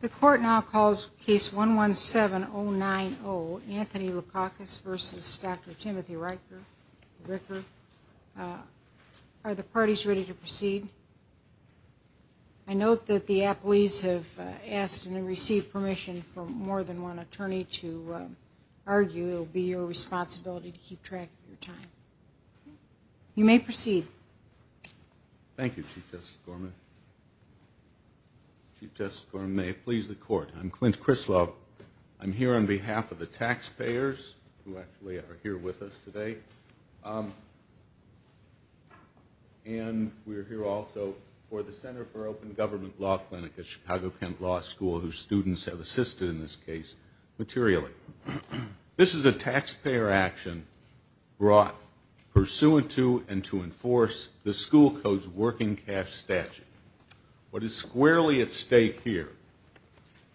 The court now calls case 117090 Anthony Lutkauskas v. Dr. Timothy Ricker. Are the parties ready to proceed? I note that the appellees have asked and received permission from more than one attorney to argue. It will be your responsibility to keep track of your time. You may proceed. Thank you, Chief Justice Gorman. Chief Justice Gorman, may it please the court. I'm Clint Krislov. I'm here on behalf of the taxpayers, who actually are here with us today. And we're here also for the Center for Open Government Law Clinic at Chicago-Kent Law School, whose students have assisted in this case materially. This is a taxpayer action brought pursuant to and to enforce the school code's working cash statute. What is squarely at stake here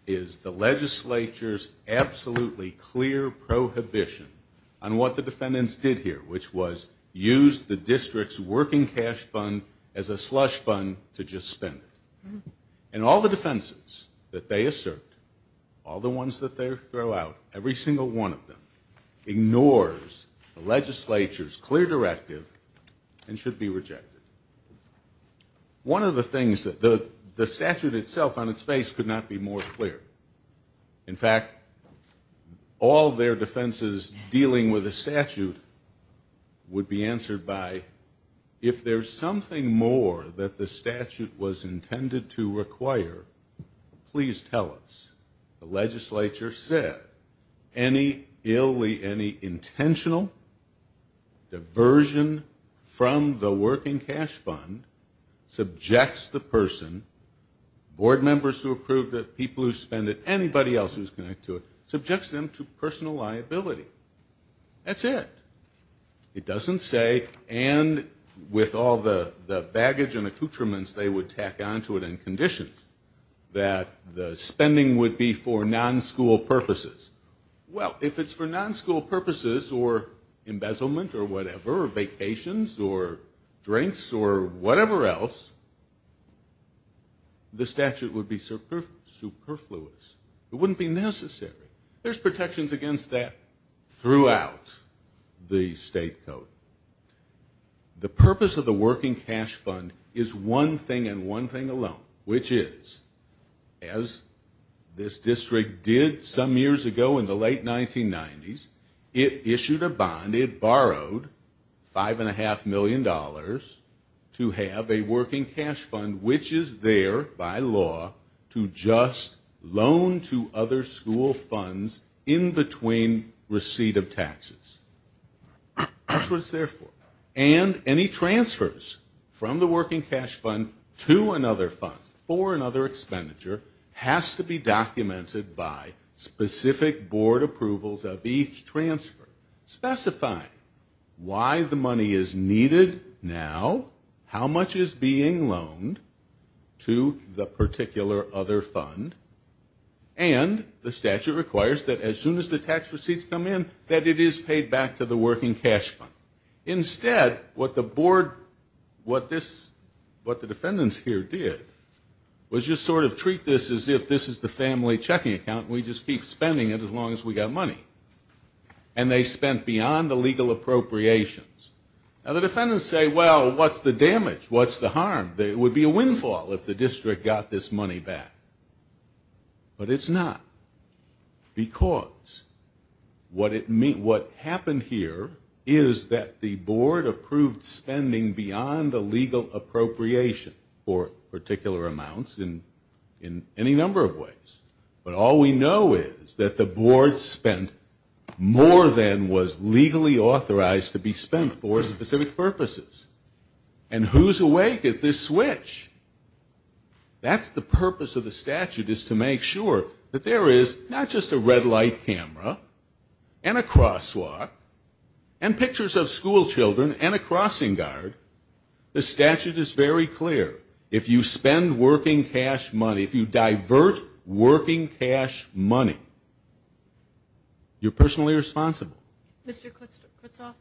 is the legislature's absolutely clear prohibition on what the defendants did here, which was use the district's working cash fund as a slush fund to just spend it. And all the defenses that they assert, all the ones that they throw out, every single one of them, ignores the legislature's clear directive and should be rejected. One of the things that the statute itself on its face could not be more clear. In fact, all their defenses dealing with the statute would be answered by, if there's something more that the statute was intended to require, please tell us. The legislature said any ill intentional diversion from the working cash fund subjects the person, board members who approved it, people who spent it, anybody else who's connected to it, subjects them to personal liability. That's it. It doesn't say, and with all the baggage and accoutrements they would tack on to it and conditions, that the spending would be for non-school purposes. Well, if it's for non-school purposes or embezzlement or whatever or vacations or drinks or whatever else, the statute would be superfluous. It wouldn't be necessary. There's protections against that throughout the state code. The purpose of the working cash fund is one thing and one thing alone, which is, as this district did some years ago in the late 1990s, it issued a bond, it borrowed $5.5 million to have a working cash fund, which is there by law to just loan to other school funds in between receipt of taxes. That's what it's there for. And any transfers from the working cash fund to another fund for another expenditure has to be documented by specific board approvals of each transfer specifying why the money is needed now, how much is being loaned to the particular other fund, and the statute requires that as soon as the tax receipts come in that it is paid back to the working cash fund. Instead, what the board, what the defendants here did was just sort of treat this as if this is the family checking account and we just keep spending it as long as we've got money. And they spent beyond the legal appropriations. Now, the defendants say, well, what's the damage? What's the harm? It would be a windfall if the district got this money back. But it's not because what happened here is that the board approved spending beyond the legal appropriation for particular amounts in any number of ways. But all we know is that the board spent more than was legally authorized to be spent for specific purposes. And who's awake at this switch? That's the purpose of the statute is to make sure that there is not just a red light camera and a crosswalk and pictures of school children and a crossing guard. The statute is very clear. If you spend working cash money, if you divert working cash money, you're personally responsible. Mr. Kutzoff,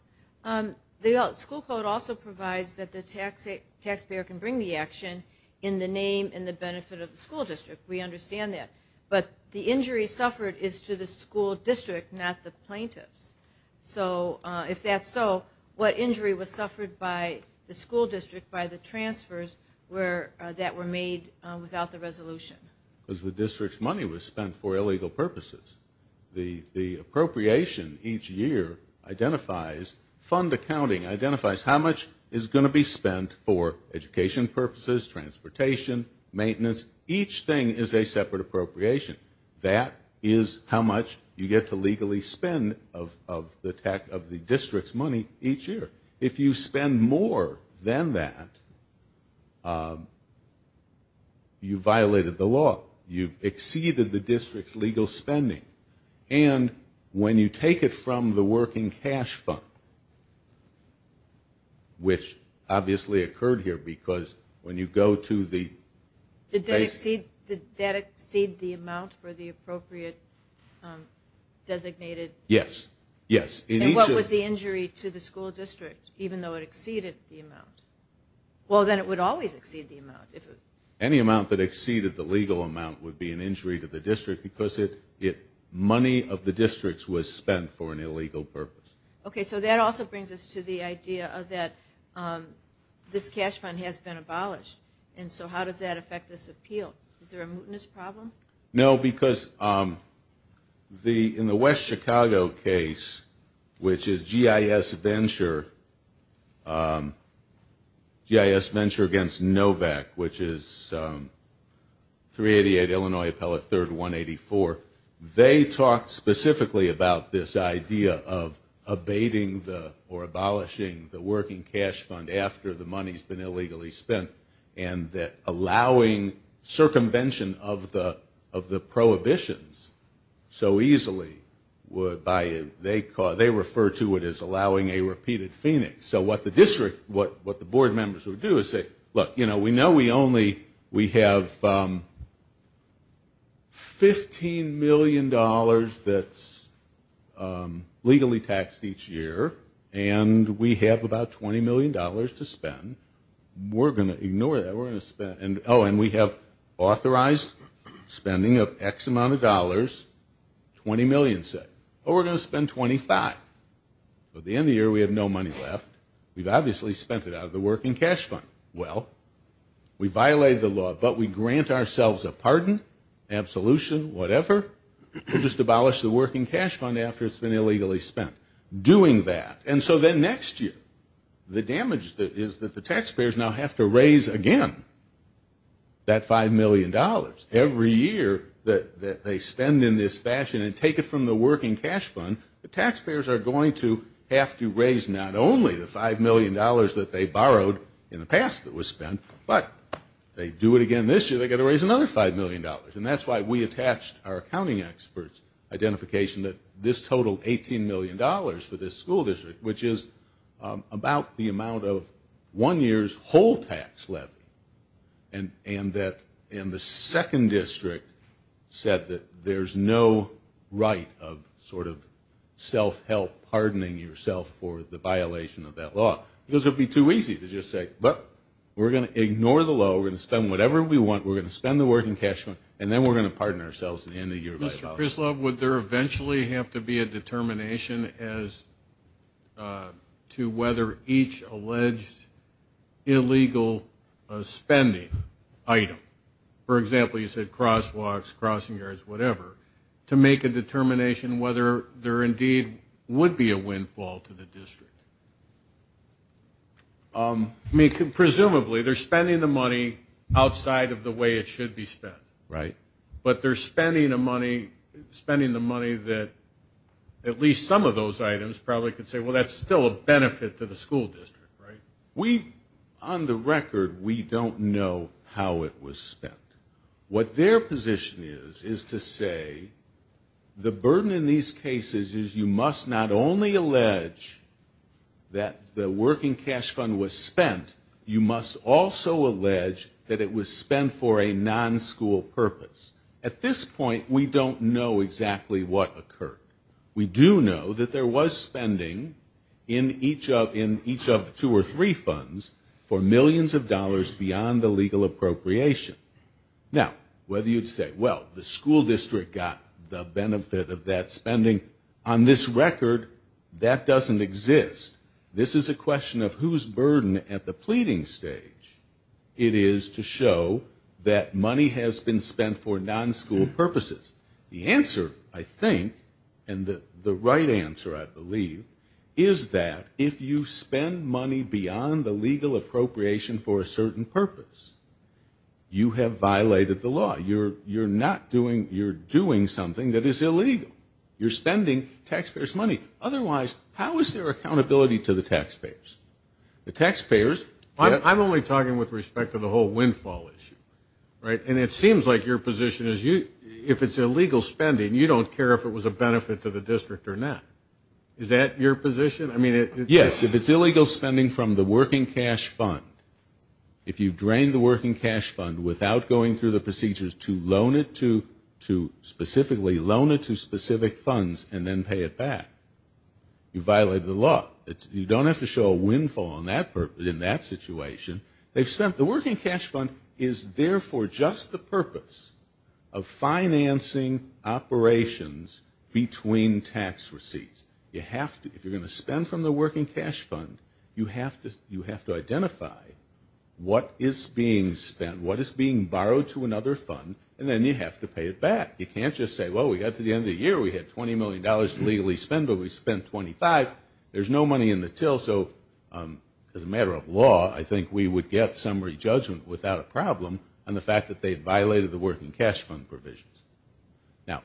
the school code also provides that the taxpayer can bring the action in the name and the benefit of the school district. We understand that. But the injury suffered is to the school district, not the plaintiffs. So if that's so, what injury was suffered by the school district by the transfers that were made without the resolution? Because the district's money was spent for illegal purposes. The appropriation each year identifies fund accounting, identifies how much is going to be spent for education purposes, transportation, maintenance. Each thing is a separate appropriation. That is how much you get to legally spend of the district's money each year. If you spend more than that, you violated the law. You've exceeded the district's legal spending. And when you take it from the working cash fund, which obviously occurred here because when you go to the- Yes, yes. And what was the injury to the school district, even though it exceeded the amount? Well, then it would always exceed the amount. Any amount that exceeded the legal amount would be an injury to the district because money of the district was spent for an illegal purpose. Okay, so that also brings us to the idea that this cash fund has been abolished. And so how does that affect this appeal? Is there a mootness problem? No, because in the West Chicago case, which is GIS Venture against NOVAC, which is 388 Illinois Appellate 3rd 184, they talked specifically about this idea of abating or abolishing the working cash fund after the money's been illegally spent and that allowing circumvention of the prohibitions so easily would- they refer to it as allowing a repeated phoenix. So what the district-what the board members would do is say, look, we know we only-we have $15 million that's legally taxed each year, and we have about $20 million to spend. We're going to ignore that. We're going to spend-oh, and we have authorized spending of X amount of dollars, 20 million said. Oh, we're going to spend 25. At the end of the year, we have no money left. We've obviously spent it out of the working cash fund. Well, we violated the law, but we grant ourselves a pardon, absolution, whatever. We'll just abolish the working cash fund after it's been illegally spent. Doing that. And so then next year, the damage is that the taxpayers now have to raise again that $5 million. Every year that they spend in this fashion and take it from the working cash fund, the taxpayers are going to have to raise not only the $5 million that they borrowed in the past that was spent, but they do it again this year, they've got to raise another $5 million. And that's why we attached our accounting experts' identification that this totaled $18 million for this school district, which is about the amount of one year's whole tax levy. And the second district said that there's no right of sort of self-help pardoning yourself for the violation of that law. It would be too easy to just say, but we're going to ignore the low. We're going to spend whatever we want. We're going to spend the working cash fund, and then we're going to pardon ourselves at the end of the year by violation. Mr. Krislav, would there eventually have to be a determination as to whether each alleged illegal spending item, for example, you said crosswalks, crossing yards, whatever, to make a determination whether there indeed would be a windfall to the district? I mean, presumably they're spending the money outside of the way it should be spent. Right. But they're spending the money that at least some of those items probably could say, well, that's still a benefit to the school district, right? We, on the record, we don't know how it was spent. What their position is, is to say the burden in these cases is you must not only allege that the working cash fund was spent, you must also allege that it was spent for a non-school purpose. At this point, we don't know exactly what occurred. We do know that there was spending in each of two or three funds for millions of dollars beyond the legal appropriation. Now, whether you'd say, well, the school district got the benefit of that spending, on this record, that doesn't exist. This is a question of whose burden at the pleading stage it is to show that money has been spent for non-school purposes. The answer, I think, and the right answer, I believe, is that if you spend money beyond the legal appropriation for a certain purpose, you have violated the law. You're not doing, you're doing something that is illegal. You're spending taxpayers' money. Otherwise, how is there accountability to the taxpayers? The taxpayers. I'm only talking with respect to the whole windfall issue, right? And it seems like your position is if it's illegal spending, you don't care if it was a benefit to the district or not. Is that your position? Yes, if it's illegal spending from the working cash fund. If you drain the working cash fund without going through the procedures to loan it to, to specifically loan it to specific funds and then pay it back, you violated the law. You don't have to show a windfall in that situation. The working cash fund is therefore just the purpose of financing operations between tax receipts. You have to. If you're going to spend from the working cash fund, you have to identify what is being spent, what is being borrowed to another fund, and then you have to pay it back. You can't just say, well, we got to the end of the year. We had $20 million to legally spend, but we spent 25. There's no money in the till. Also, as a matter of law, I think we would get summary judgment without a problem on the fact that they violated the working cash fund provisions. Now,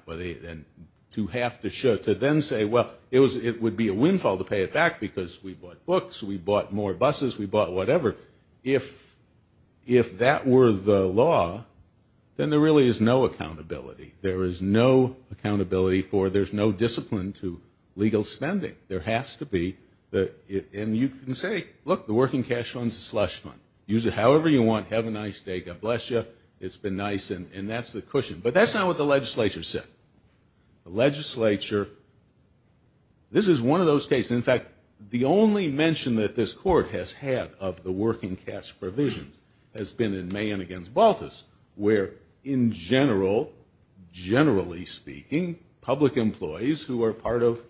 to have to show, to then say, well, it would be a windfall to pay it back because we bought books, we bought more buses, we bought whatever, if that were the law, then there really is no accountability. There is no accountability for, there's no discipline to legal spending. There has to be. And you can say, look, the working cash fund is a slush fund. Use it however you want. Have a nice day. God bless you. It's been nice. And that's the cushion. But that's not what the legislature said. The legislature, this is one of those cases. In fact, the only mention that this Court has had of the working cash provision has been in May generally speaking, public employees who are part of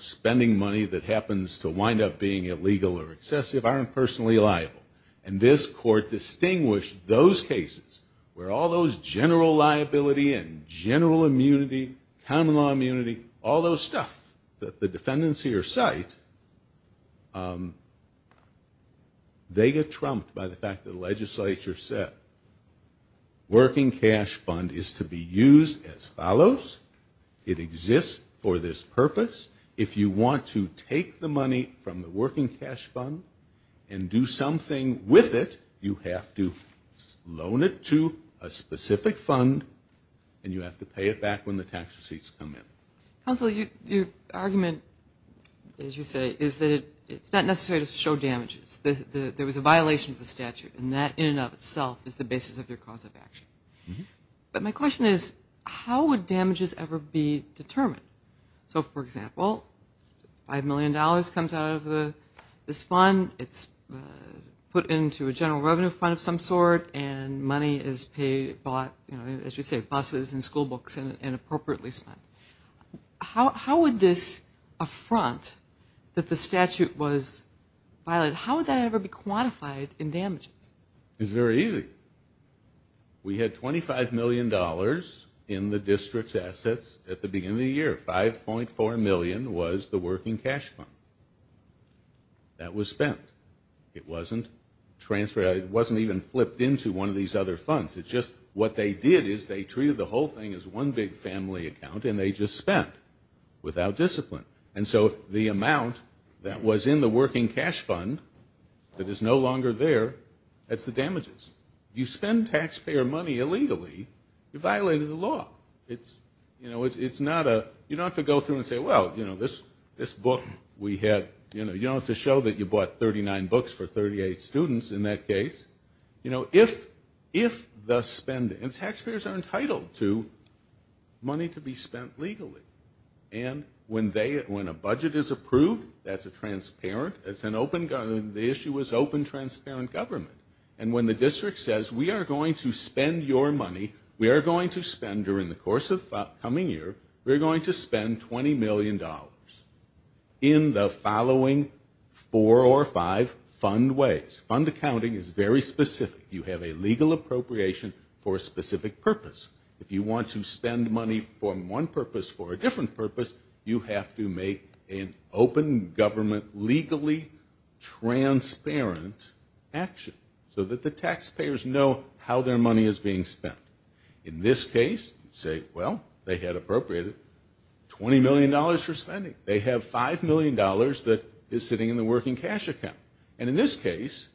spending money that happens to wind up being illegal or excessive aren't personally liable. And this Court distinguished those cases where all those general liability and general immunity, common law immunity, all those stuff that the defendants here cite, they get trumped by the fact that the legislature said working cash fund is to be used as follows. It exists for this purpose. If you want to take the money from the working cash fund and do something with it, you have to loan it to a specific fund and you have to pay it back when the tax receipts come in. Counsel, your argument, as you say, is that it's not necessary to show damages. There was a violation of the statute, and that in and of itself is the basis of your cause of action. But my question is, how would damages ever be determined? So, for example, $5 million comes out of this fund. It's put into a general revenue fund of some sort, and money is bought, as you say, buses and school books and appropriately spent. How would this affront that the statute was violated, how would that ever be quantified in damages? It's very easy. We had $25 million in the district's assets at the beginning of the year. $5.4 million was the working cash fund. That was spent. It wasn't transferred. It wasn't even flipped into one of these other funds. It's just what they did is they treated the whole thing as one big family account, and they just spent without discipline. And so the amount that was in the working cash fund that is no longer there, that's the damages. You spend taxpayer money illegally, you're violating the law. It's not a – you don't have to go through and say, well, you know, this book we had – you don't have to show that you bought 39 books for 38 students in that case. You know, if the spending – and taxpayers are entitled to money to be spent legally. And when they – when a budget is approved, that's a transparent – it's an open – the issue is open, transparent government. And when the district says, we are going to spend your money, we are going to spend during the course of the coming year, we are going to spend $20 million in the following four or five fund ways. Fund accounting is very specific. You have a legal appropriation for a specific purpose. If you want to spend money for one purpose, for a different purpose, you have to make an open government legally transparent action so that the taxpayers know how their money is being spent. In this case, say, well, they had appropriated $20 million for spending. They have $5 million that is sitting in the working cash account. And in this case,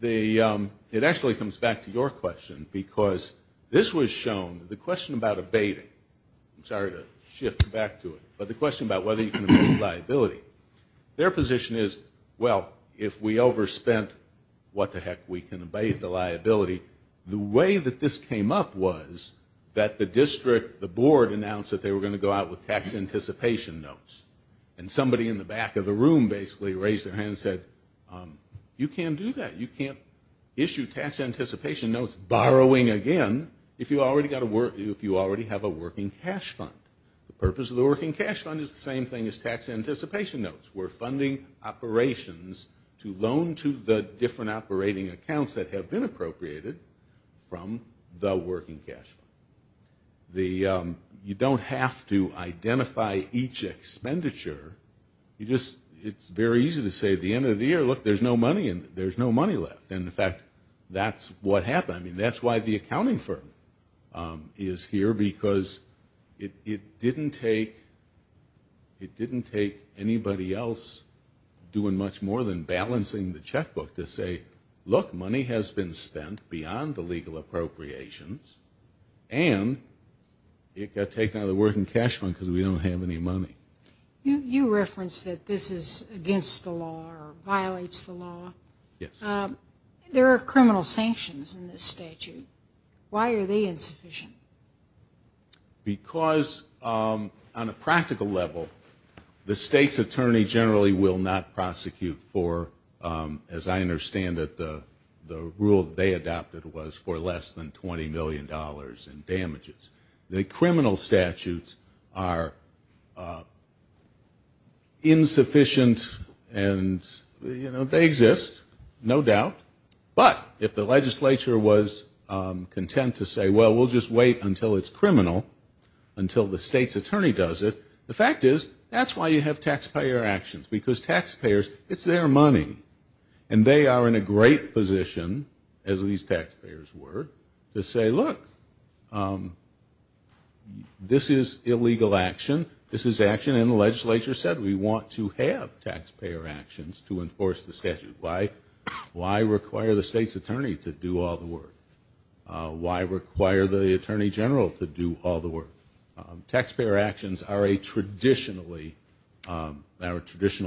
the – it actually comes back to your question because this was shown – the question about abating. I'm sorry to shift back to it. But the question about whether you can abate liability. Their position is, well, if we overspent, what the heck, we can abate the liability. The way that this came up was that the district, the board, announced that they were going to go out with tax anticipation notes. And somebody in the back of the room basically raised their hand and said, you can't do that. You can't issue tax anticipation notes, borrowing again, if you already have a working cash fund. The purpose of the working cash fund is the same thing as tax anticipation notes. We're funding operations to loan to the different operating accounts that have been appropriated from the working cash fund. The – you don't have to identify each expenditure. You just – it's very easy to say at the end of the year, look, there's no money, and there's no money left. And, in fact, that's what happened. I mean, that's why the accounting firm is here, because it didn't take anybody else doing much more than balancing the checkbook to say, look, money has been spent beyond the legal appropriations, and it got taken out of the working cash fund because we don't have any money. You referenced that this is against the law or violates the law. Yes. There are criminal sanctions in this statute. Why are they insufficient? Because on a practical level, the state's attorney generally will not prosecute for, as I understand it, the rule they adopted was for less than $20 million in damages. The criminal statutes are insufficient and, you know, they exist, no doubt. But if the legislature was content to say, well, we'll just wait until it's criminal, until the state's attorney does it, the fact is that's why you have taxpayer actions, because taxpayers, it's their money, and they are in a great position, as these taxpayers were, to say, look, this is illegal action, this is action, and the legislature said we want to have taxpayer actions to enforce the statute. Why require the state's attorney to do all the work? Why require the attorney general to do all the work? Taxpayer actions are a traditional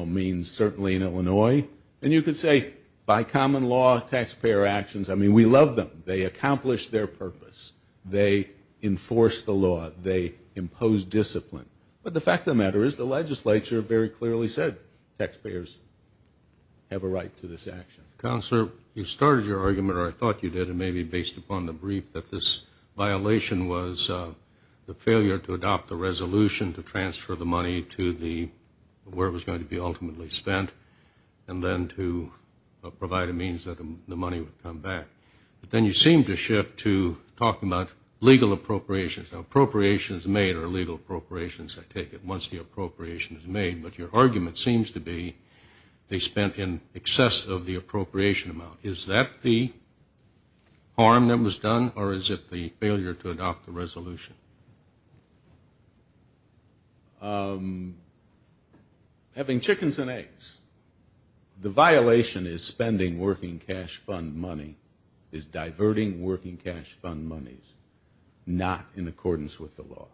means, certainly in Illinois, and you could say by common law, taxpayer actions, I mean, we love them. They accomplish their purpose. They enforce the law. They impose discipline. But the fact of the matter is the legislature very clearly said taxpayers have a right to this action. Counselor, you started your argument, or I thought you did, maybe based upon the brief, that this violation was the failure to adopt the resolution to transfer the money to where it was going to be ultimately spent and then to provide a means that the money would come back. But then you seemed to shift to talking about legal appropriations. Now, appropriations made are legal appropriations, I take it, once the appropriation is made. But your argument seems to be they spent in excess of the appropriation amount. Is that the harm that was done, or is it the failure to adopt the resolution? Having chickens and eggs. The violation is spending working cash fund money, is diverting working cash fund money, not in accordance with the law.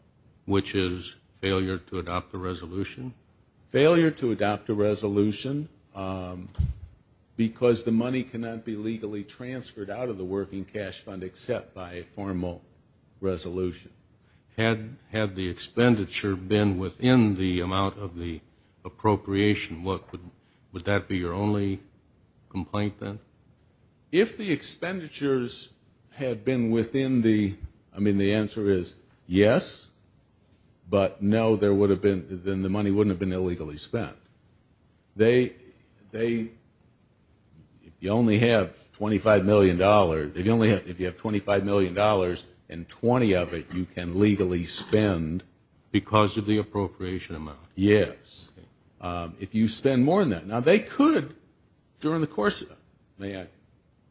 Which is failure to adopt a resolution? Failure to adopt a resolution because the money cannot be legally transferred out of the working cash fund except by a formal resolution. Had the expenditure been within the amount of the appropriation, would that be your only complaint then? If the expenditures had been within the, I mean, the answer is yes, but no, there would have been, then the money wouldn't have been illegally spent. They, if you only have $25 million, if you only have, if you have $25 million and 20 of it you can legally spend. Because of the appropriation amount. Yes. If you spend more than that. Now, they could during the course of, may I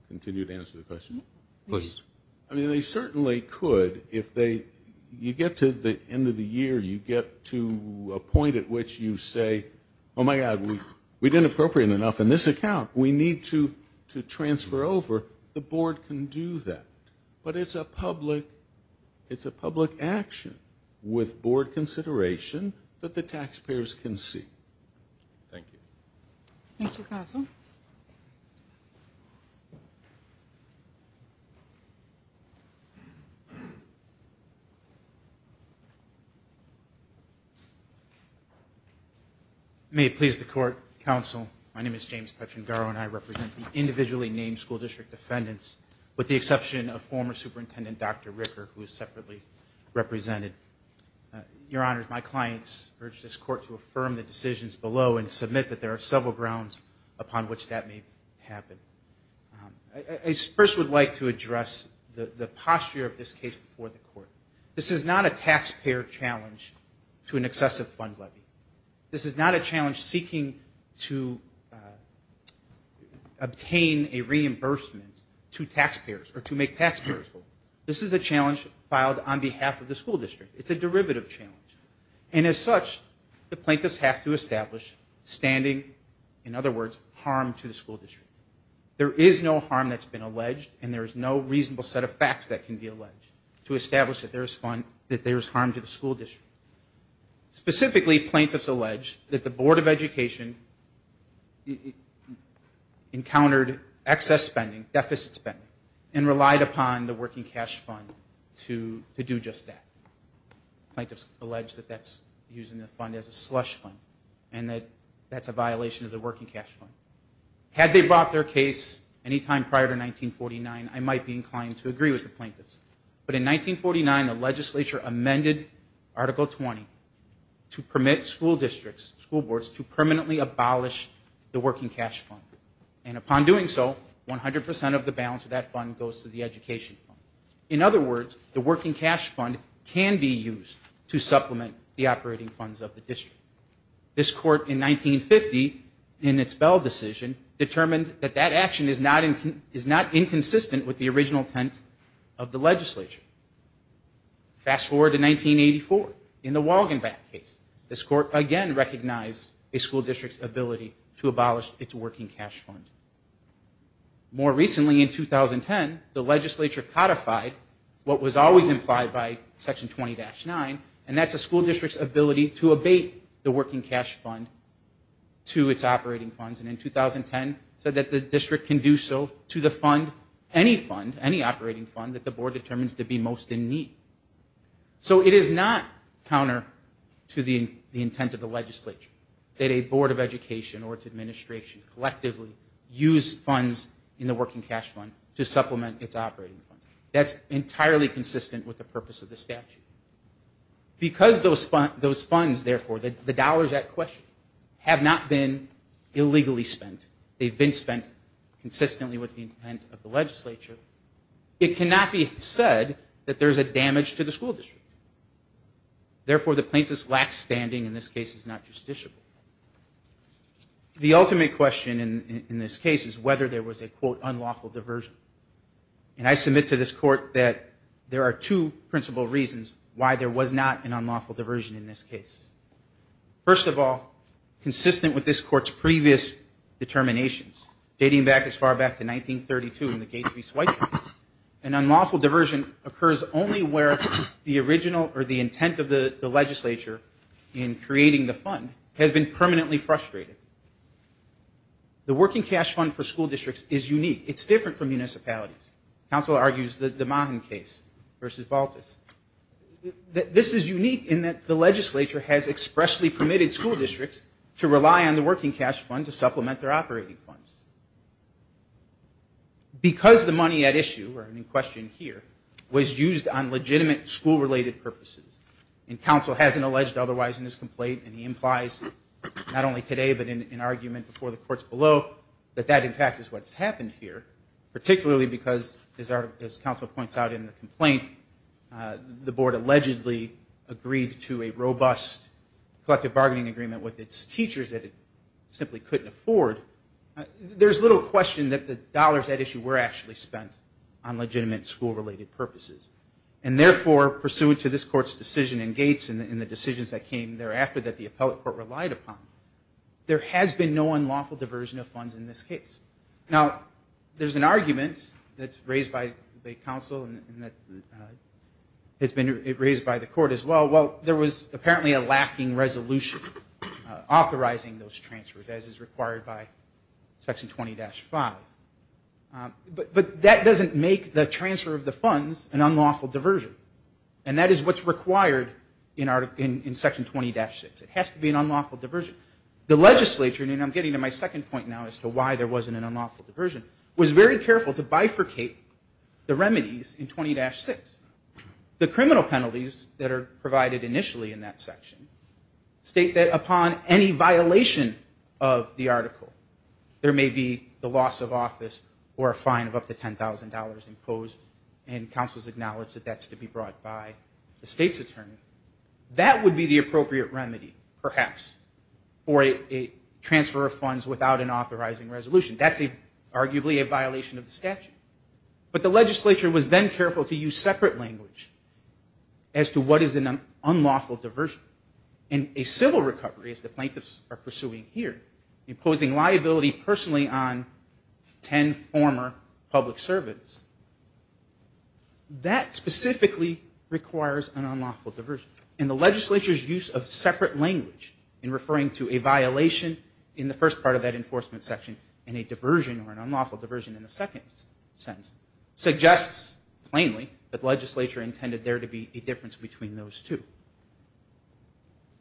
continue to answer the question? Please. I mean, they certainly could if they, you get to the end of the year, you get to a point at which you say, oh, my God, we didn't appropriate enough in this account, we need to transfer over, the board can do that. But it's a public, it's a public action with board consideration that the taxpayers can see. Thank you. Thank you, Counsel. May it please the Court, Counsel, my name is James Petrangaro and I represent the individually named school district defendants, with the exception of former Superintendent Dr. Ricker, who is separately represented. Your Honors, my clients urge this Court to affirm the decisions below and submit that there are several grounds upon which that may happen. I first would like to address the posture of this case before the Court. This is not a taxpayer challenge to an excessive fund levy. This is not a challenge seeking to obtain a reimbursement to taxpayers, or to make taxpayers full. This is a challenge filed on behalf of the school district. It's a derivative challenge. And as such, the plaintiffs have to establish standing, in other words, harm to the school district. There is no harm that's been alleged and there is no reasonable set of facts that can be alleged to establish that there is harm to the school district. Specifically, plaintiffs allege that the Board of Education encountered excess spending, deficit spending, and relied upon the working cash fund to do just that. Plaintiffs allege that that's using the fund as a slush fund and that that's a violation of the working cash fund. Had they brought their case any time prior to 1949, I might be inclined to agree with the plaintiffs. But in 1949, the legislature amended Article 20 to permit school districts, school boards, to permanently abolish the working cash fund. And upon doing so, 100% of the balance of that fund goes to the education fund. In other words, the working cash fund can be used to supplement the operating funds of the district. This court in 1950, in its Bell decision, determined that that action is not inconsistent with the original intent of the legislature. Fast forward to 1984, in the Walgenbach case, this court again recognized a school district's ability to abolish its working cash fund. More recently, in 2010, the legislature codified what was always implied by Section 20-9, and that's a school district's ability to abate the working cash fund to its operating funds. And in 2010, said that the district can do so to the fund, any fund, any operating fund that the board determines to be most in need. So it is not counter to the intent of the legislature that a board of education or its administration collectively use funds in the working cash fund to supplement its operating funds. That's entirely consistent with the purpose of the statute. Because those funds, therefore, the dollars at question, have not been illegally spent. They've been spent consistently with the intent of the legislature. It cannot be said that there's a damage to the school district. Therefore, the plaintiff's lack standing in this case is not justiciable. The ultimate question in this case is whether there was a, quote, unlawful diversion. And I submit to this court that there are two principal reasons why there was not an unlawful diversion in this case. First of all, consistent with this court's previous determinations, dating back as far back as 1932 in the Gates v. Schweitzer case, an unlawful diversion occurs only where the original or the intent of the legislature in creating the fund has been permanently frustrated. The working cash fund for school districts is unique. It's different from municipalities. Counsel argues the Mahan case versus Baltus. This is unique in that the legislature has expressly permitted school districts to rely on the working cash fund to supplement their operating funds. Because the money at issue, or in question here, was used on legitimate school-related purposes, and counsel hasn't alleged otherwise in this complaint, and he implies not only today but in argument before the courts below, that that, in fact, is what's happened here, particularly because, as counsel points out in the complaint, the board allegedly agreed to a robust collective bargaining agreement with its teachers that it simply couldn't afford, there's little question that the dollars at issue were actually spent on legitimate school-related purposes. And therefore, pursuant to this court's decision in Gates and the decisions that came thereafter that the appellate court relied upon, there has been no unlawful diversion of funds in this case. Now, there's an argument that's raised by counsel and that has been raised by the court as well. Well, there was apparently a lacking resolution authorizing those transfers, as is required by Section 20-5. But that doesn't make the transfer of the funds an unlawful diversion, and that is what's required in Section 20-6. It has to be an unlawful diversion. The legislature, and I'm getting to my second point now as to why there wasn't an unlawful diversion, was very careful to bifurcate the remedies in 20-6. The criminal penalties that are provided initially in that section state that upon any violation of the article, there may be the loss of office or a fine of up to $10,000 imposed, and counsel has acknowledged that that's to be brought by the state's attorney. That would be the appropriate remedy, perhaps, for a transfer of funds without an authorizing resolution. That's arguably a violation of the statute. But the legislature was then careful to use separate language as to what is an unlawful diversion. In a civil recovery, as the plaintiffs are pursuing here, imposing liability personally on 10 former public servants, that specifically requires an unlawful diversion. In the legislature's use of separate language in referring to a violation in the first part of that enforcement section and a diversion or an unlawful diversion in the second sentence suggests plainly that legislature intended there to be a difference between those two.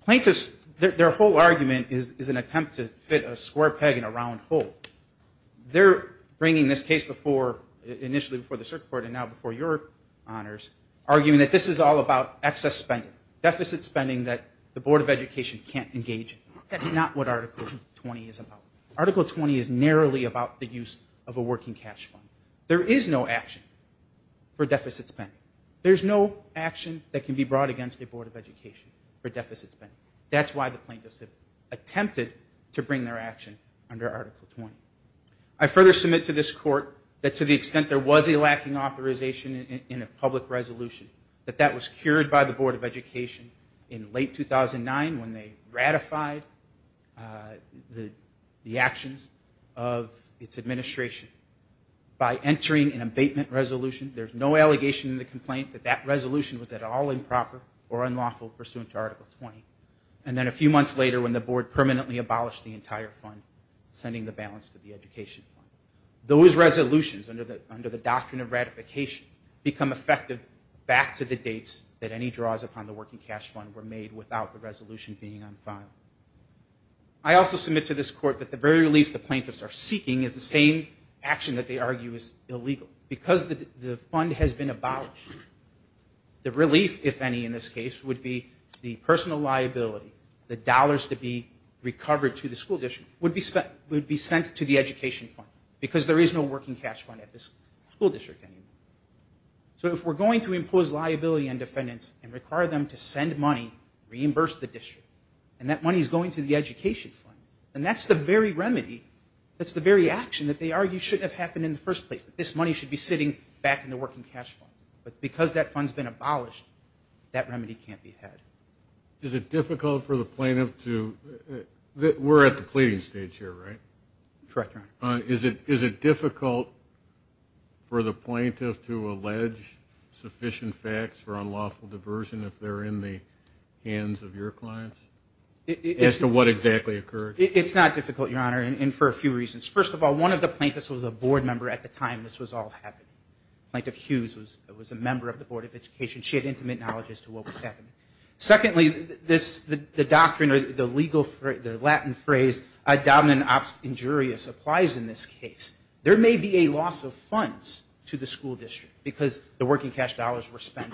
Plaintiffs, their whole argument is an attempt to fit a square peg in a round hole. They're bringing this case initially before the circuit court and now before your honors, arguing that this is all about excess spending, deficit spending that the Board of Education can't engage in. That's not what Article 20 is about. Article 20 is narrowly about the use of a working cash fund. There is no action for deficit spending. There's no action that can be brought against the Board of Education for deficit spending. That's why the plaintiffs have attempted to bring their action under Article 20. I further submit to this court that to the extent there was a lacking authorization in a public resolution, that that was cured by the Board of Education, the actions of its administration. By entering an abatement resolution, there's no allegation in the complaint that that resolution was at all improper or unlawful pursuant to Article 20. And then a few months later when the board permanently abolished the entire fund, sending the balance to the education fund. Those resolutions under the doctrine of ratification become effective back to the dates that any draws upon the working cash fund were made without the resolution being on file. I also submit to this court that the very relief the plaintiffs are seeking is the same action that they argue is illegal. Because the fund has been abolished, the relief, if any in this case, would be the personal liability, the dollars to be recovered to the school district would be sent to the education fund because there is no working cash fund at this school district anymore. So if we're going to impose liability on defendants and require them to send money, reimburse the district, and that money is going to the education fund, then that's the very remedy, that's the very action that they argue shouldn't have happened in the first place, that this money should be sitting back in the working cash fund. But because that fund's been abolished, that remedy can't be had. Is it difficult for the plaintiff to – we're at the pleading stage here, right? Correct, Your Honor. Is it difficult for the plaintiff to allege sufficient facts for unlawful diversion if they're in the hands of your clients as to what exactly occurred? It's not difficult, Your Honor, and for a few reasons. First of all, one of the plaintiffs was a board member at the time this was all happening. Plaintiff Hughes was a member of the Board of Education. She had intimate knowledge as to what was happening. Secondly, the doctrine or the legal – the Latin phrase, a dominant injurious applies in this case. There may be a loss of funds to the school district because the working cash funds and the dollars were spent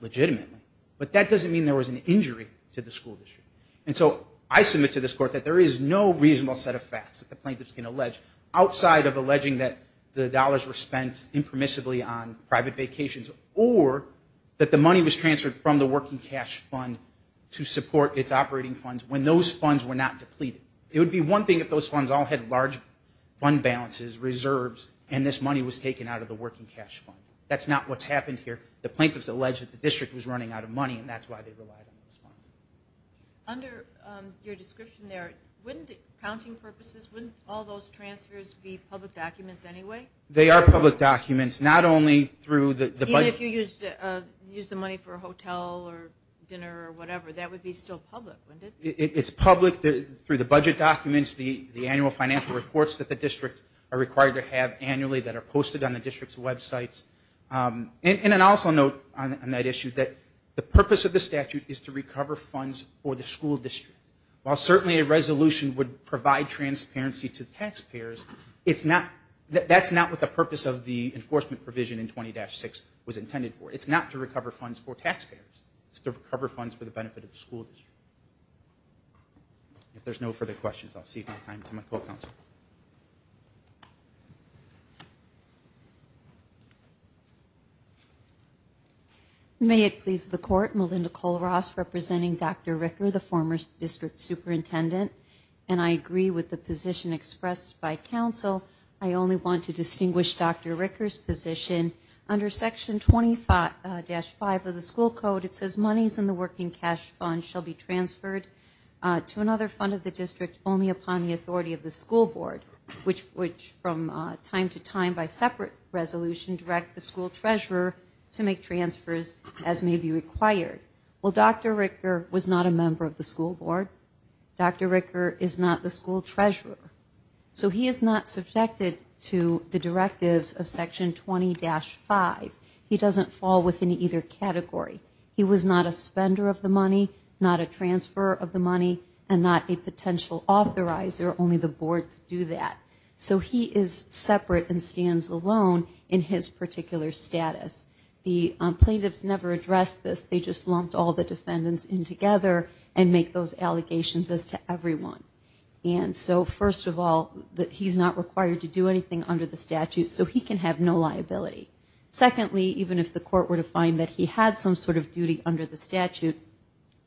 legitimately. But that doesn't mean there was an injury to the school district. And so I submit to this court that there is no reasonable set of facts that the plaintiffs can allege outside of alleging that the dollars were spent impermissibly on private vacations or that the money was transferred from the working cash fund to support its operating funds when those funds were not depleted. It would be one thing if those funds all had large fund balances, reserves, and this money was taken out of the working cash fund. That's not what's happened here. The plaintiffs allege that the district was running out of money and that's why they relied on this money. Under your description there, wouldn't accounting purposes, wouldn't all those transfers be public documents anyway? They are public documents. Not only through the – Even if you used the money for a hotel or dinner or whatever, that would be still public, wouldn't it? It's public through the budget documents, the annual financial reports that the districts are required to have annually that are posted on the district's websites. And I also note on that issue that the purpose of the statute is to recover funds for the school district. While certainly a resolution would provide transparency to taxpayers, that's not what the purpose of the enforcement provision in 20-6 was intended for. It's not to recover funds for taxpayers. It's to recover funds for the benefit of the school district. If there's no further questions, I'll cede my time to my co-counsel. May it please the court, Melinda Cole-Ross representing Dr. Ricker, the former district superintendent, and I agree with the position expressed by counsel. I only want to distinguish Dr. Ricker's position. Under Section 25-5 of the school code, it says monies in the working cash fund shall be transferred to another fund of the district only upon the authority of the school board, which from time to time by separate resolution direct the school treasurer to make transfers as may be required. Well, Dr. Ricker was not a member of the school board. Dr. Ricker is not the school treasurer. So he is not subjected to the directives of Section 20-5. He doesn't fall within either category. He was not a spender of the money, not a transfer of the money, and not a potential authorizer. Only the board could do that. So he is separate and stands alone in his particular status. The plaintiffs never addressed this. They just lumped all the defendants in together and make those allegations as to everyone. And so first of all, he's not required to do anything under the statute, so he can have no liability. Secondly, even if the court were to find that he had some sort of duty under the statute,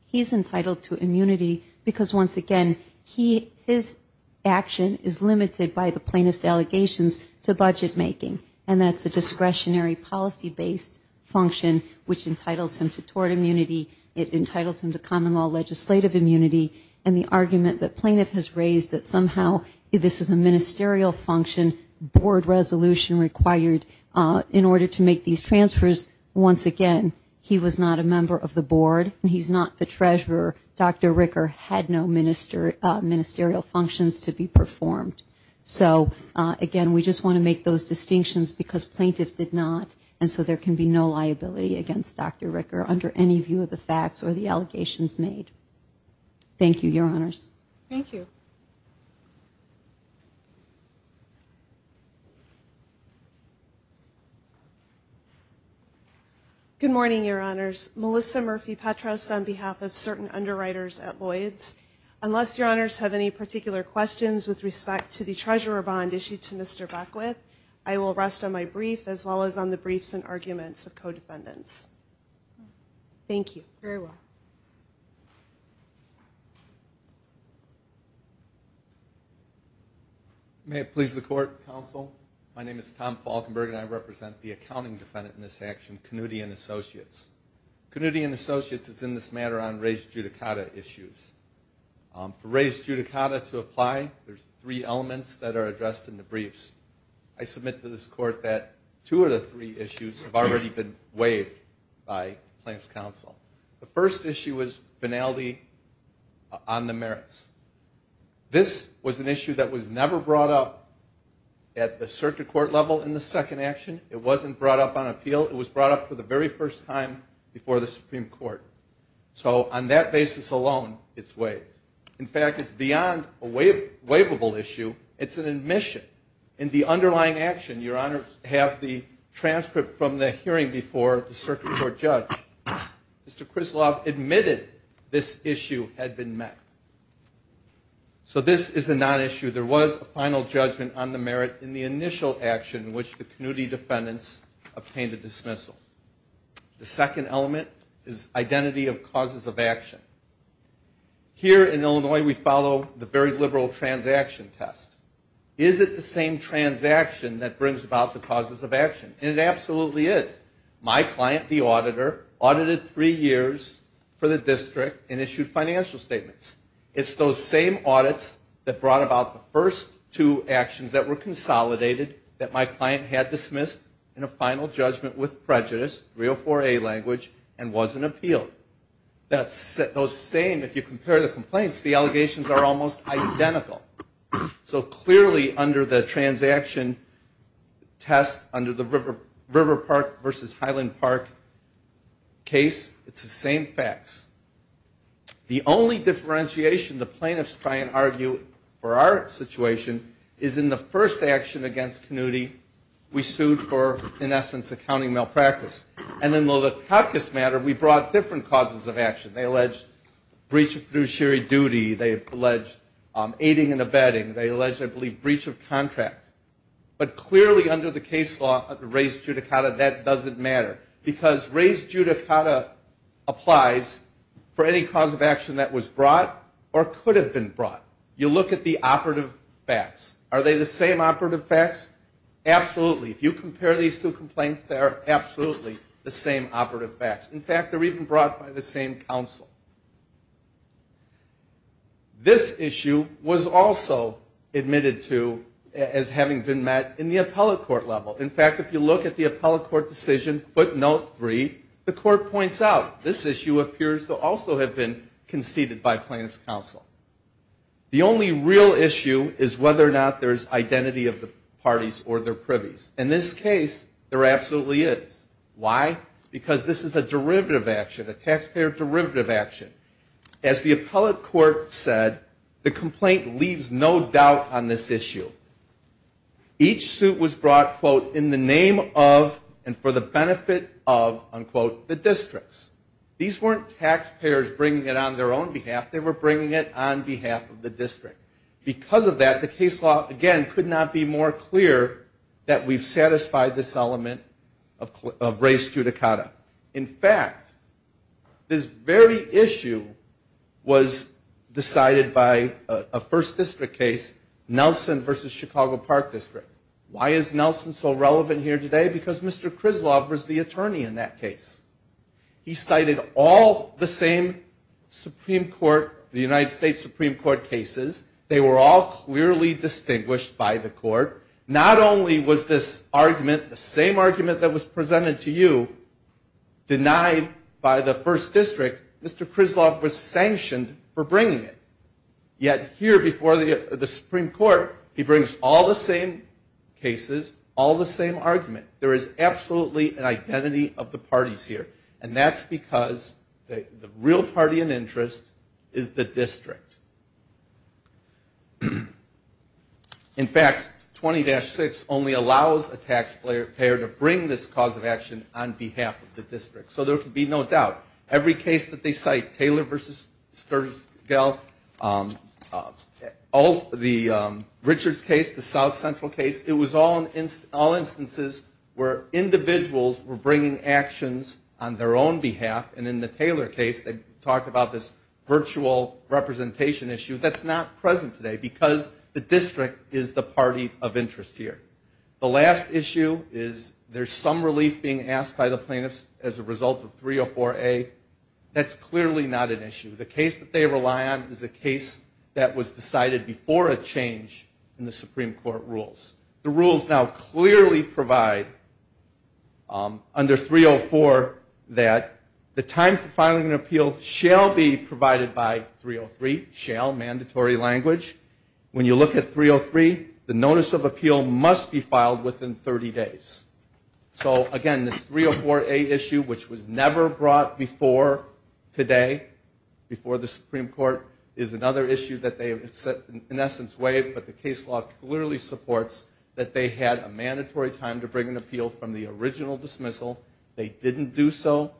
he's entitled to immunity because, once again, his action is limited by the plaintiff's allegations to budget making, and that's a discretionary policy-based function, which entitles him to tort immunity, it entitles him to common law legislative immunity, and the argument that plaintiff has raised that somehow this is a ministerial function, board resolution required in order to make these transfers, once again, he was not a member of the board. He's not the treasurer. Dr. Ricker had no ministerial functions to be performed. So, again, we just want to make those distinctions because plaintiff did not, and so there can be no liability against Dr. Ricker under any view of the facts or the allegations made. Thank you, Your Honors. Thank you. Good morning, Your Honors. Melissa Murphy-Petras on behalf of certain underwriters at Lloyd's. Unless Your Honors have any particular questions with respect to the treasurer bond issued to Mr. Beckwith, I will rest on my brief, as well as on the briefs and arguments of co-defendants. Thank you. Thank you very much. May it please the Court, Counsel. My name is Tom Falkenberg, and I represent the accounting defendant in this action, Knutty & Associates. Knutty & Associates is in this matter on raised judicata issues. For raised judicata to apply, there's three elements that are addressed in the briefs. I submit to this Court that two of the three issues have already been waived by the plaintiff's counsel. The first issue is finality on the merits. This was an issue that was never brought up at the circuit court level in the second action. It wasn't brought up on appeal. It was brought up for the very first time before the Supreme Court. So on that basis alone, it's waived. In fact, it's beyond a waivable issue. It's an admission. In the underlying action, your honors have the transcript from the hearing before the circuit court judge. Mr. Krizlov admitted this issue had been met. So this is a non-issue. There was a final judgment on the merit in the initial action in which the Knutty defendants obtained a dismissal. The second element is identity of causes of action. Here in Illinois, we follow the very liberal transaction test. Is it the same transaction that brings about the causes of action? And it absolutely is. My client, the auditor, audited three years for the district and issued financial statements. It's those same audits that brought about the first two actions that were consolidated that my client had dismissed in a final judgment with prejudice, 304A language, and wasn't appealed. Those same, if you compare the complaints, the allegations are almost identical. So clearly under the transaction test, under the River Park versus Highland Park case, it's the same facts. The only differentiation the plaintiffs try and argue for our situation is in the first action against Knutty, we sued for, in essence, accounting malpractice. And then, though the caucus matter, we brought different causes of action. They alleged breach of fiduciary duty. They alleged aiding and abetting. They alleged, I believe, breach of contract. But clearly under the case law, raised judicata, that doesn't matter. Because raised judicata applies for any cause of action that was brought or could have been brought. You look at the operative facts. Are they the same operative facts? Absolutely. If you compare these two complaints, they are absolutely the same operative facts. In fact, they're even brought by the same counsel. This issue was also admitted to as having been met in the appellate court level. In fact, if you look at the appellate court decision footnote three, the court points out this issue appears to also have been conceded by plaintiff's counsel. The only real issue is whether or not there's identity of the parties or their privies. In this case, there absolutely is. Why? Because this is a derivative action, a taxpayer derivative action. As the appellate court said, the complaint leaves no doubt on this issue. Each suit was brought, quote, in the name of and for the benefit of, unquote, the districts. These weren't taxpayers bringing it on their own behalf. They were bringing it on behalf of the district. Because of that, the case law, again, could not be more clear that we've satisfied this element of raised judicata. In fact, this very issue was decided by a first district case, Nelson v. Chicago Park District. Why is Nelson so relevant here today? Because Mr. Krizlov was the attorney in that case. He cited all the same Supreme Court, the United States Supreme Court cases. They were all clearly distinguished by the court. Not only was this argument, the same argument that was presented to you, denied by the first district, Mr. Krizlov was sanctioned for bringing it. Yet here before the Supreme Court, he brings all the same cases, all the same argument. There is absolutely an identity of the parties here. And that's because the real party in interest is the district. In fact, 20-6 only allows a taxpayer to bring this cause of action on behalf of the district. So there can be no doubt. Every case that they cite, Taylor v. Sturgill, the Richards case, the South Central case, it was all instances where individuals were bringing actions on their own behalf. And in the Taylor case, they talked about this virtual representation issue. That's not present today because the district is the party of interest here. The last issue is there's some relief being asked by the plaintiffs as a result of 304A. That's clearly not an issue. The case that they rely on is a case that was decided before a change in the Supreme Court rules. The rules now clearly provide under 304 that the time for filing an appeal shall be provided by 303, shall, mandatory language. When you look at 303, the notice of appeal must be filed within 30 days. So, again, this 304A issue, which was never brought before today, before the Supreme Court, is another issue that they have in essence waived. But the case law clearly supports that they had a mandatory time to bring an appeal from the original dismissal. They didn't do so.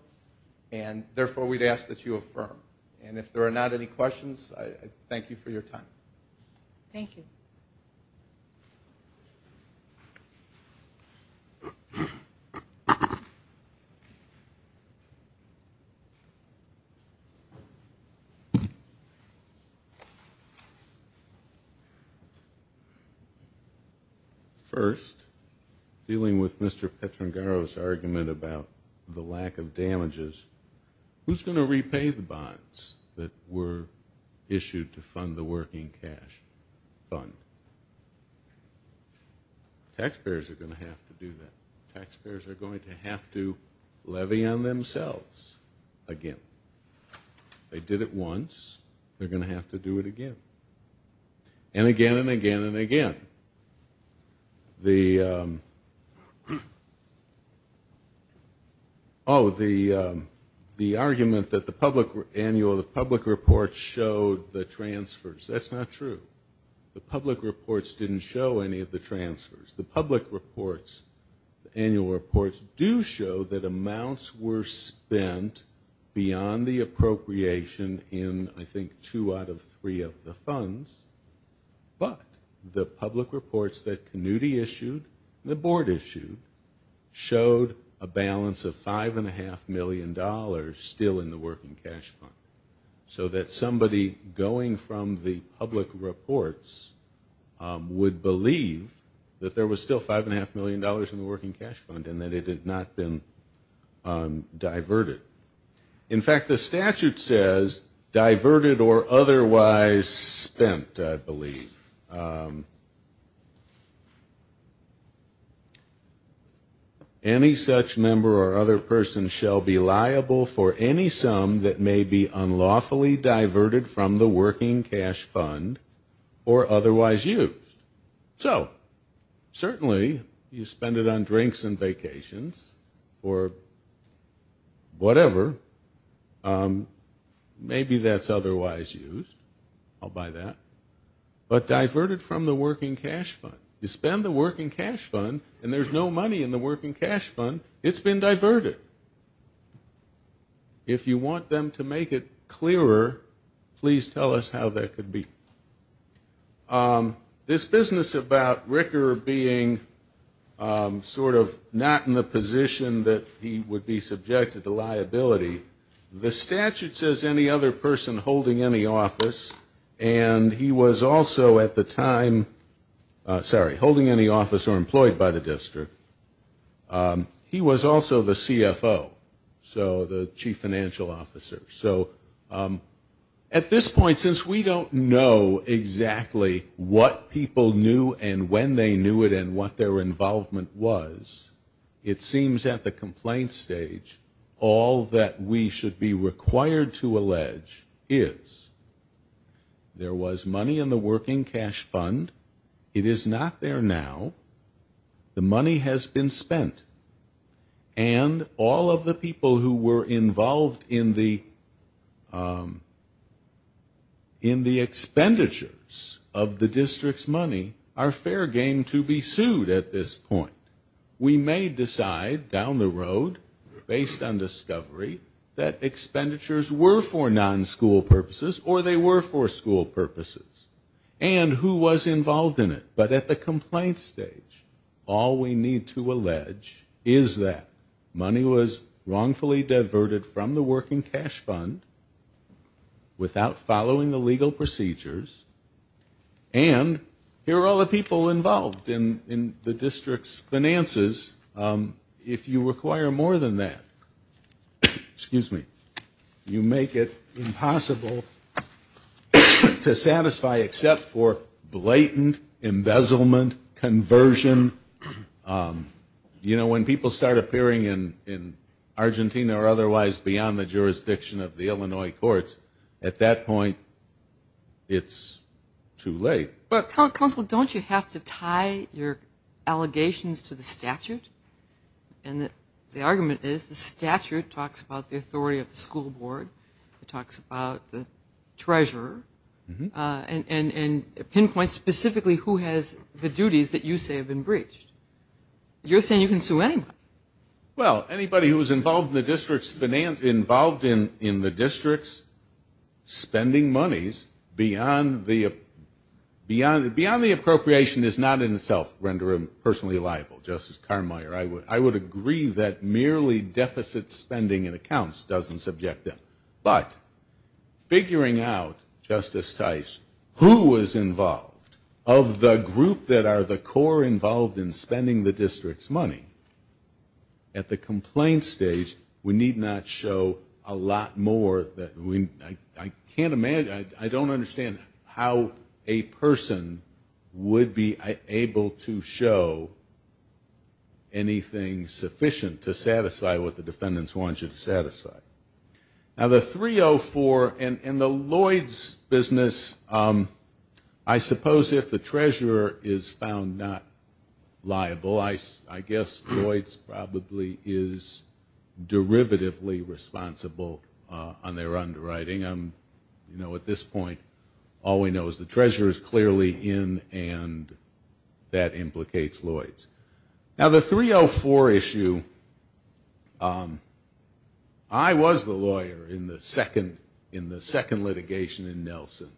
And, therefore, we'd ask that you affirm. And if there are not any questions, I thank you for your time. Thank you. Thank you. First, dealing with Mr. Petrangaro's argument about the lack of damages, who's going to repay the bonds that were issued to fund the working cash fund? Taxpayers are going to have to do that. Taxpayers are going to have to levy on themselves again. They did it once. They're going to have to do it again. And again and again and again. The, oh, the argument that the public annual, the public reports showed the transfers, that's not true. The public reports didn't show any of the transfers. The public reports, the annual reports, do show that amounts were spent beyond the appropriation in, I think, two out of three of the funds. But the public reports that Knudy issued, the board issued, showed a balance of $5.5 million still in the working cash fund. So that somebody going from the public reports would believe that there was still $5.5 million in the working cash fund and that it had not been diverted. In fact, the statute says diverted or otherwise spent, I believe. Any such member or other person shall be liable for any sum that may be unlawfully diverted from the working cash fund or otherwise used. So certainly you spend it on drinks and vacations or whatever. Maybe that's otherwise used. I'll buy that. But diverted from the working cash fund. You spend the working cash fund and there's no money in the working cash fund. It's been diverted. If you want them to make it clearer, please tell us how that could be. This business about Ricker being sort of not in the position that he would be subjected to liability, the statute says any other person holding any office. And he was also at the time, sorry, holding any office or employed by the district. He was also the CFO. So the chief financial officer. So at this point, since we don't know exactly what people knew and when they knew it and what their involvement was, it seems at the complaint stage all that we should be required to allege is there was money in the working cash fund. It is not there now. The money has been spent. And all of the people who were involved in the expenditures of the district's money are fair game to be sued at this point. We may decide down the road based on discovery that expenditures were for non-school purposes or they were for school purposes. And who was involved in it. But at the complaint stage, all we need to allege is that money was wrongfully diverted from the working cash fund without following the legal procedures. And here are all the people involved in the district's finances. If you require more than that, excuse me, you make it impossible to satisfy except for blatant embezzlement, conversion. You know, when people start appearing in Argentina or otherwise beyond the jurisdiction of the Illinois courts, at that point it's too late. Counsel, don't you have to tie your allegations to the statute? And the argument is the statute talks about the authority of the school board. It talks about the treasurer. And pinpoints specifically who has the duties that you say have been breached. You're saying you can sue anyone. Well, anybody who was involved in the district's spending monies beyond the appropriation is not in the self-rendering personally liable, Justice Carmeier. I would agree that merely deficit spending in accounts doesn't subject them. But figuring out, Justice Tice, who was involved of the group that are the core involved in spending the district's money, at the complaint stage we need not show a lot more that we, I can't imagine, I don't understand how a person would be able to show anything sufficient to satisfy what the defendants want you to satisfy. Now the 304 and the Lloyd's business, I suppose if the treasurer is found not liable, I guess Lloyd's probably is derivatively responsible on their underwriting. At this point all we know is the treasurer is clearly in and that implicates Lloyd's. Now the 304 issue, I was the lawyer in the second litigation in Nelson.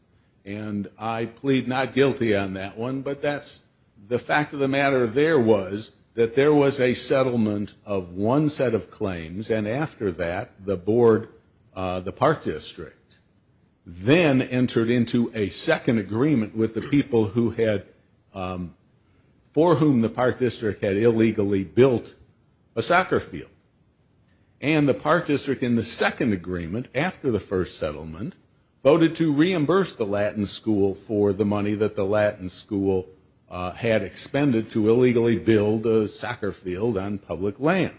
And I plead not guilty on that one, but that's the fact of the matter there was that there was a settlement of one set of claims and after that the board, the Park District, then entered into a second agreement with the people who had, for whom the Park District had illegally built a soccer field. And the Park District in the second agreement after the first settlement voted to reimburse the Latin School for the money that the Latin School had expended to illegally build a soccer field on public land.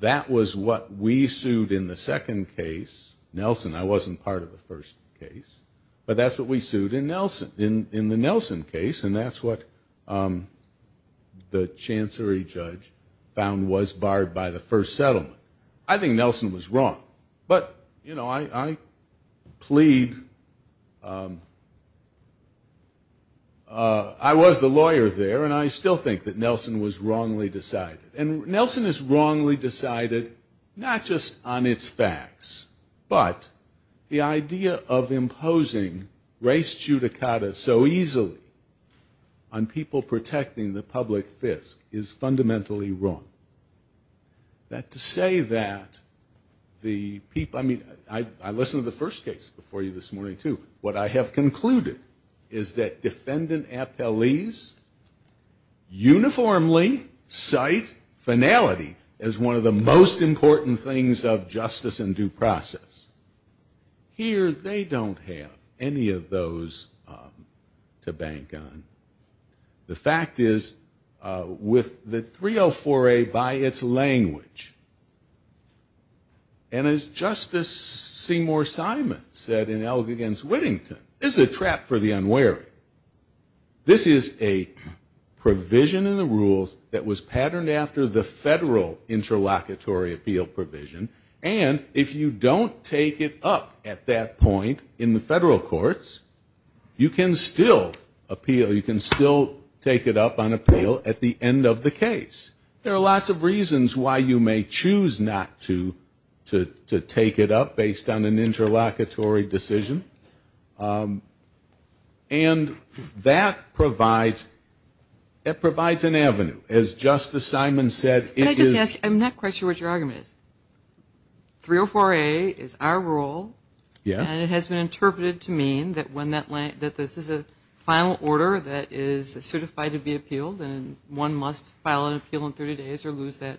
That was what we sued in the second case. Nelson, I wasn't part of the first case, but that's what we sued in Nelson, in the Nelson case and that's what the chancery judge found was barred by the first settlement. I think Nelson was wrong, but I plead, I was the lawyer there and I still think that Nelson was wrongly decided. And Nelson is wrongly decided not just on its facts, but the idea of imposing race judicata so easily on people protecting the public fisc is fundamentally wrong. That to say that the people, I mean, I listened to the first case before you this morning too. What I have concluded is that defendant appellees uniformly cite the first case finality as one of the most important things of justice and due process. Here they don't have any of those to bank on. The fact is with the 304A by its language, and as Justice Seymour Simon said in Elgin against Whittington, this is a trap for the unwary. This is a provision in the rules that was patterned after the federal interlocutory appeal provision and if you don't take it up at that point in the federal courts, you can still appeal. You can still take it up on appeal at the end of the case. There are lots of reasons why you may choose not to take it up based on an interlocutory decision. And that provides an avenue. As Justice Simon said, it is... Can I just ask, I'm not quite sure what your argument is. 304A is our rule and it has been interpreted to mean that this is a final order that is certified to be appealed and one must file an appeal in 30 days or lose that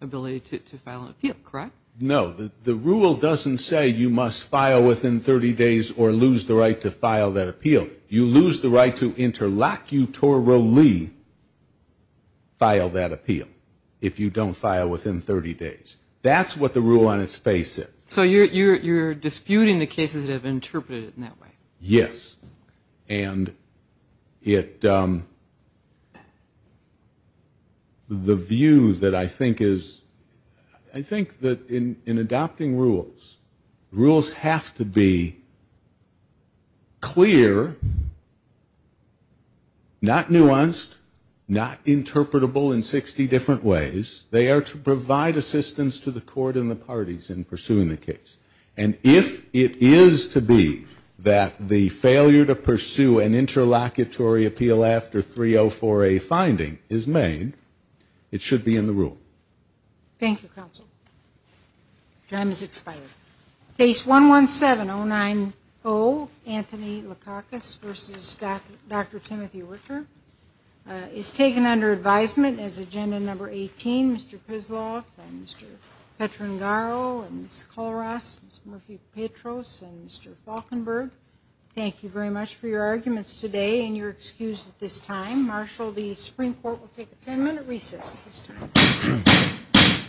ability to file an appeal, correct? No, the rule doesn't say you must file within 30 days or lose the right to file that appeal. You lose the right to interlocutorily file that appeal if you don't file within 30 days. That's what the rule on its face is. So you're disputing the cases that have been interpreted in that way. Yes. And the view that I think is... I think that in adopting rules, rules have to be clear, not nuanced, not interpretable in 60 different ways. They are to provide assistance to the court and the parties in pursuing the case. And if it is to be that the failure to pursue an interlocutory appeal after 304A finding is made, it should be in the rule. Thank you, counsel. Time has expired. Case 117090, Anthony Lakakis v. Dr. Timothy Richter is taken under advisement as agenda number 18. Mr. Pisloff and Mr. Petrangaro and Ms. Kollross, Ms. Murphy-Petros and Mr. Falkenberg, thank you very much for your arguments today and your excuse at this time. Marshal, the Supreme Court will take a 10-minute recess at this time.